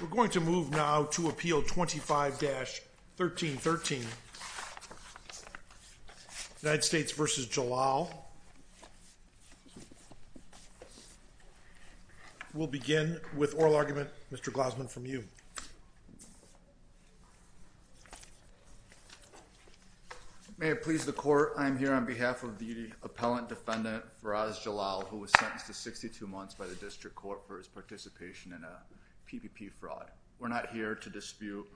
We're going to move now to Appeal 25-1313, United States v. Jalal. We'll begin with oral argument, Mr. Glausman, from you. May it please the Court, I am here on behalf of the appellant defendant, Feroz Jalal, who was sentenced to 62 months by the District Court for his participation in a PPP fraud. We're not here to dispute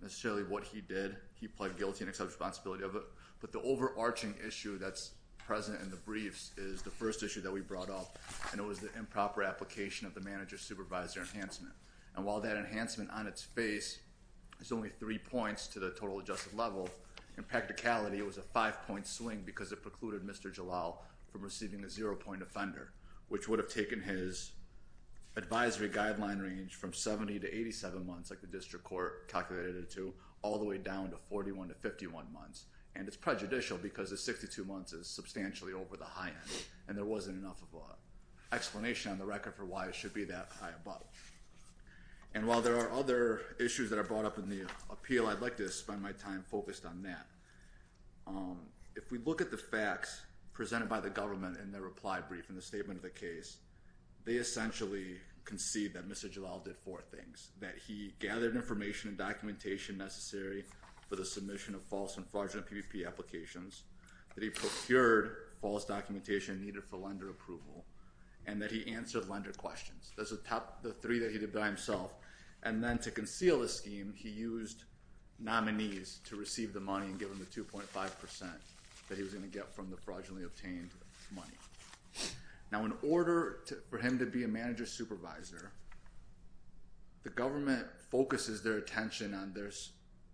necessarily what he did. He pled guilty and accepted responsibility of it. But the overarching issue that's present in the briefs is the first issue that we brought up, and it was the improper application of the manager-supervisor enhancement. And while that enhancement on its face is only three points to the total adjusted level, in practicality it was a five-point swing because it precluded Mr. Jalal from receiving a zero-point offender, which would have taken his advisory guideline range from 70 to 87 months, like the District Court calculated it to, all the way down to 41 to 51 months. And it's prejudicial because the 62 months is substantially over the high end, and there isn't enough of an explanation on the record for why it should be that high above. And while there are other issues that are brought up in the appeal, I'd like to spend my time focused on that. If we look at the facts presented by the government in their reply brief, in the statement of the case, they essentially concede that Mr. Jalal did four things. That he gathered information and documentation necessary for the submission of false and fraudulent PVP applications, that he procured false documentation needed for lender approval, and that he answered lender questions. Those are the three that he did by himself. And then to conceal the scheme, he used nominees to receive the money and give them the 2.5 percent that he was going to get from the fraudulently obtained money. Now in order for him to be a manager-supervisor, the government focuses their attention on there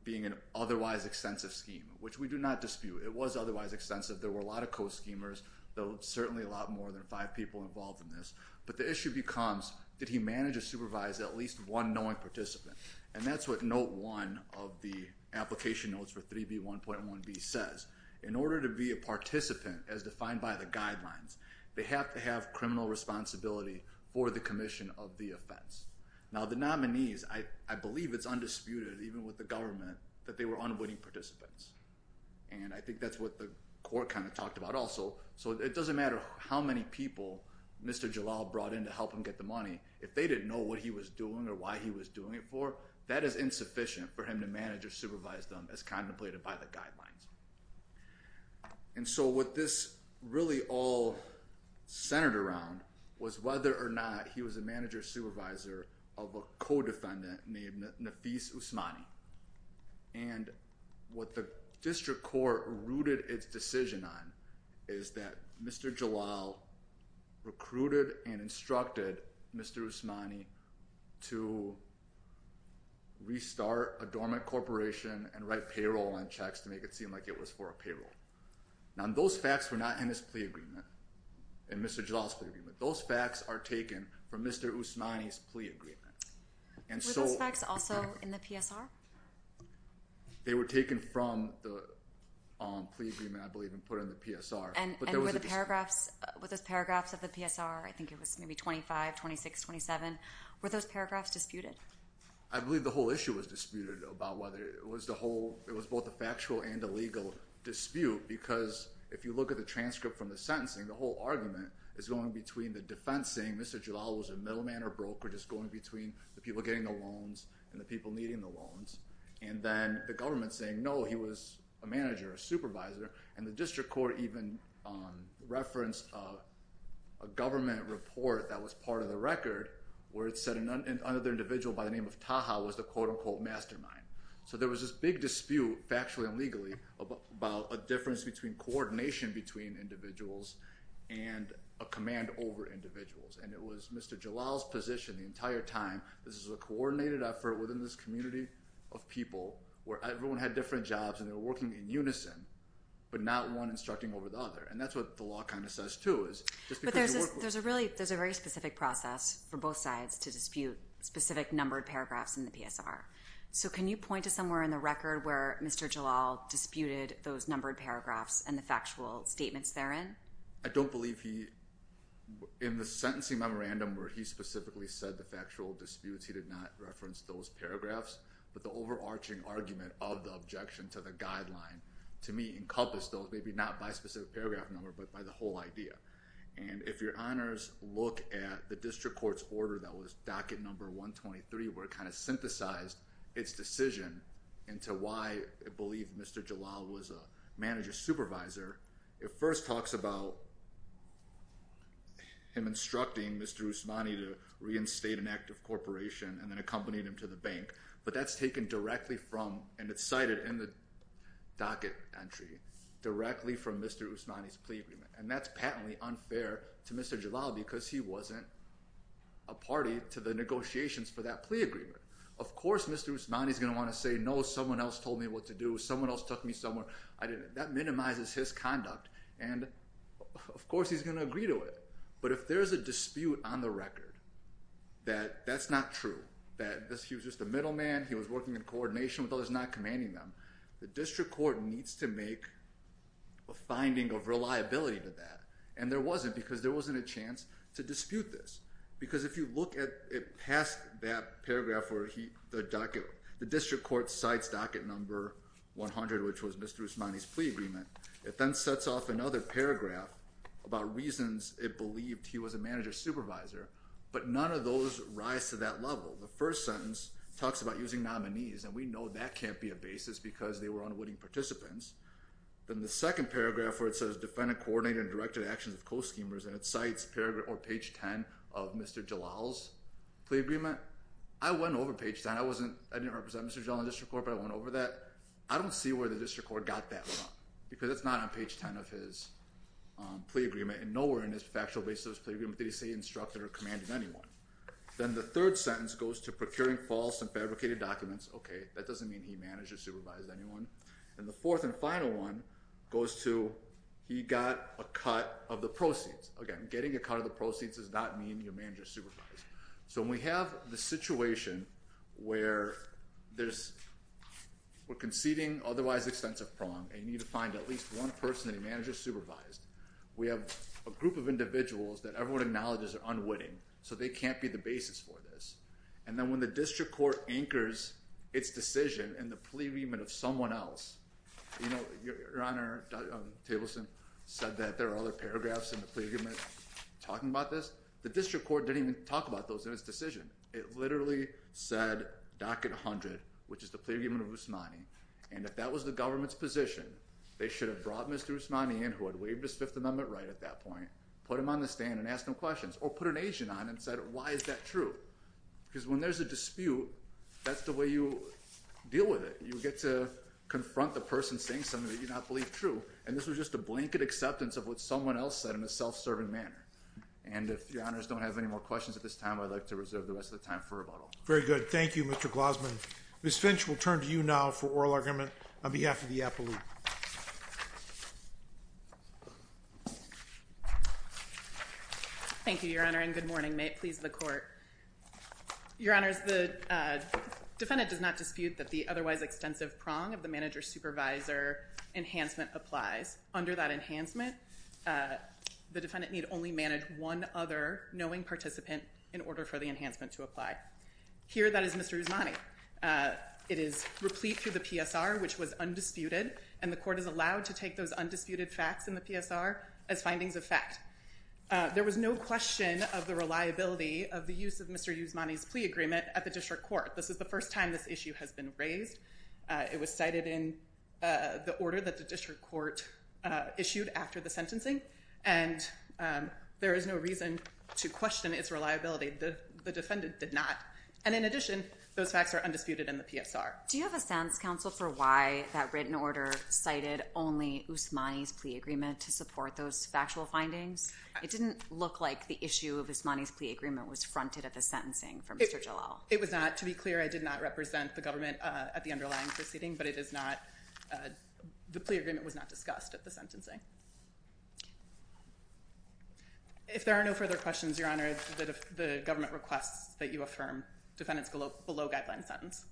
being an otherwise extensive scheme, which we do not dispute. It was otherwise extensive. There were a lot of co-schemers, though certainly a lot more than five people involved in this. But the issue becomes, did he manage or supervise at least one knowing participant? And that's what note one of the application notes for 3B1.1b says. In order to be a participant, as defined by the guidelines, they have to have criminal responsibility for the commission of the offense. Now the nominees, I believe it's undisputed, even with the government, that they were unwitting participants. And I think that's what the court kind of talked about also. So it doesn't matter how many people Mr. Jalal brought in to help him get the money. If they didn't know what he was doing or why he was doing it for, that is insufficient for him to manage or supervise them as contemplated by the guidelines. And so what this really all centered around was whether or not he was a manager supervisor of a co-defendant named Nafis Usmani. And what the district court rooted its decision on is that Mr. Jalal recruited and instructed Mr. Usmani to restart a dormant corporation and write payroll on checks to make it seem like it was for a payroll. Now those facts were not in his plea agreement, in Mr. Jalal's plea agreement. Those facts are taken from Mr. Usmani's plea agreement. And so- Were those facts also in the PSR? They were taken from the plea agreement, I believe, and put in the PSR. And were those paragraphs of the PSR, I think it was maybe 25, 26, 27, were those paragraphs disputed? I believe the whole issue was disputed about whether it was both a factual and a legal dispute, because if you look at the transcript from the sentencing, the whole argument is going between the defense saying Mr. Jalal was a middleman or broker, just going between the people getting the loans and the people needing the loans, and then the government saying no, he was a manager, a supervisor, and the district court even referenced a government report that was part of the record where it said another individual by the name of Taha was the quote-unquote mastermind. So there was this big dispute, factually and legally, about a difference between coordination between individuals and a command over individuals. And it was Mr. Jalal's position the entire time, this is a coordinated effort within this community of people where everyone had different jobs and they were working in unison, but not one instructing over the other, and that's what the law kind of says, too, is just because you work with- But there's a really, there's a very specific process for both sides to dispute specific numbered paragraphs in the PSR. So can you point to somewhere in the record where Mr. Jalal disputed those numbered paragraphs and the factual statements therein? I don't believe he, in the sentencing memorandum where he specifically said the factual disputes, he did not reference those paragraphs, but the overarching argument of the objection to the guideline, to me, encompassed those, maybe not by specific paragraph number, but by the whole idea. And if your honors look at the district court's order that was docket number 123, where it kind of synthesized its decision into why it believed Mr. Jalal was a manager supervisor, it first talks about him instructing Mr. Usmani to reinstate an active corporation and then accompanying him to the bank, but that's taken directly from, and it's cited in the docket entry, directly from Mr. Usmani's plea agreement, and that's patently unfair to Mr. Jalal because he wasn't a party to the negotiations for that plea agreement. Of course Mr. Usmani's going to want to say, no, someone else told me what to do, someone else took me somewhere, I didn't. That minimizes his conduct, and of course he's going to agree to it. But if there's a dispute on the record that that's not true, that he was just a middleman, he was working in coordination with others, not commanding them, the district court needs to make a finding of reliability to that. And there wasn't because there wasn't a chance to dispute this. Because if you look at past that paragraph where the district court cites docket number 100, which was Mr. Usmani's plea agreement, it then sets off another paragraph about reasons it believed he was a manager supervisor, but none of those rise to that level. The first sentence talks about using nominees, and we know that can't be a basis because they were unwitting participants. Then the second paragraph where it says defendant coordinated and directed actions of co-schemers and it cites page 10 of Mr. Jalal's plea agreement, I went over page 10, I didn't represent Mr. Corbett, I went over that, I don't see where the district court got that from because it's not on page 10 of his plea agreement and nowhere in his factual basis did he say he instructed or commanded anyone. Then the third sentence goes to procuring false and fabricated documents, okay, that doesn't mean he managed or supervised anyone, and the fourth and final one goes to he got a cut of the proceeds. Again, getting a cut of the proceeds does not mean your manager supervised. So when we have the situation where there's, we're conceding otherwise extensive prong and you need to find at least one person that he managed or supervised, we have a group of individuals that everyone acknowledges are unwitting, so they can't be the basis for this, and then when the district court anchors its decision in the plea agreement of someone else, you know, Your Honor, Tableson said that there are other paragraphs in the It doesn't talk about those in its decision. It literally said, docket 100, which is the plea agreement of Usmani, and if that was the government's position, they should have brought Mr. Usmani in who had waived his Fifth Amendment right at that point, put him on the stand and asked him questions, or put an agent on and said, why is that true, because when there's a dispute, that's the way you deal with it. You get to confront the person saying something that you do not believe true, and this was just a blanket acceptance of what someone else said in a self-serving manner. And if Your Honors don't have any more questions at this time, I'd like to reserve the rest of the time for rebuttal. Very good. Thank you, Mr. Glosman. Ms. Finch will turn to you now for oral argument on behalf of the appellate. Thank you, Your Honor, and good morning. May it please the Court. Your Honors, the defendant does not dispute that the otherwise extensive prong of the manager-supervisor enhancement applies. Under that enhancement, the defendant need only manage one other knowing participant in order for the enhancement to apply. Here that is Mr. Usmani. It is replete through the PSR, which was undisputed, and the Court is allowed to take those undisputed facts in the PSR as findings of fact. There was no question of the reliability of the use of Mr. Usmani's plea agreement at the district court. This is the first time this issue has been raised. It was cited in the order that the district court issued after the sentencing, and there is no reason to question its reliability. The defendant did not, and in addition, those facts are undisputed in the PSR. Do you have a sense, counsel, for why that written order cited only Usmani's plea agreement to support those factual findings? It didn't look like the issue of Usmani's plea agreement was fronted at the sentencing for Mr. Jalal. It was not. To be clear, I did not represent the government at the underlying proceeding, but it is not, the plea agreement was not discussed at the sentencing. If there are no further questions, Your Honor, the government requests that you affirm defendant's below guideline sentence.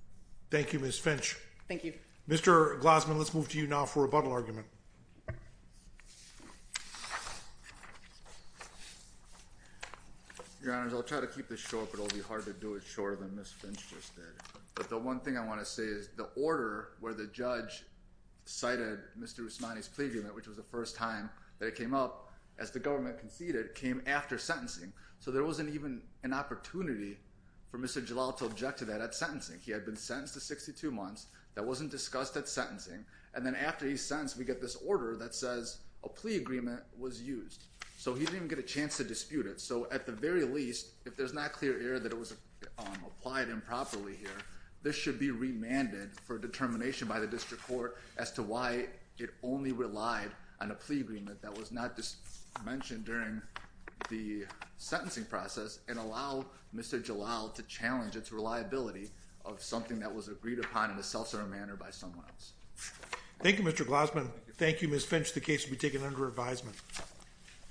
Thank you, Ms. Finch. Thank you. Mr. Glossman, let's move to you now for a bundle argument. Your Honor, I'll try to keep this short, but it'll be hard to do it shorter than Ms. Finch. But the one thing I want to say is the order where the judge cited Mr. Usmani's plea agreement, which was the first time that it came up, as the government conceded, came after sentencing. So there wasn't even an opportunity for Mr. Jalal to object to that at sentencing. He had been sentenced to 62 months. That wasn't discussed at sentencing, and then after he's sentenced, we get this order that says a plea agreement was used. So he didn't even get a chance to dispute it. So at the very least, if there's not clear error that it was applied improperly here, this should be remanded for determination by the district court as to why it only relied on a plea agreement that was not mentioned during the sentencing process and allow Mr. Jalal to challenge its reliability of something that was agreed upon in a self-serving manner by someone else. Thank you, Mr. Glossman. Thank you, Ms. Finch. The case will be taken under advisement.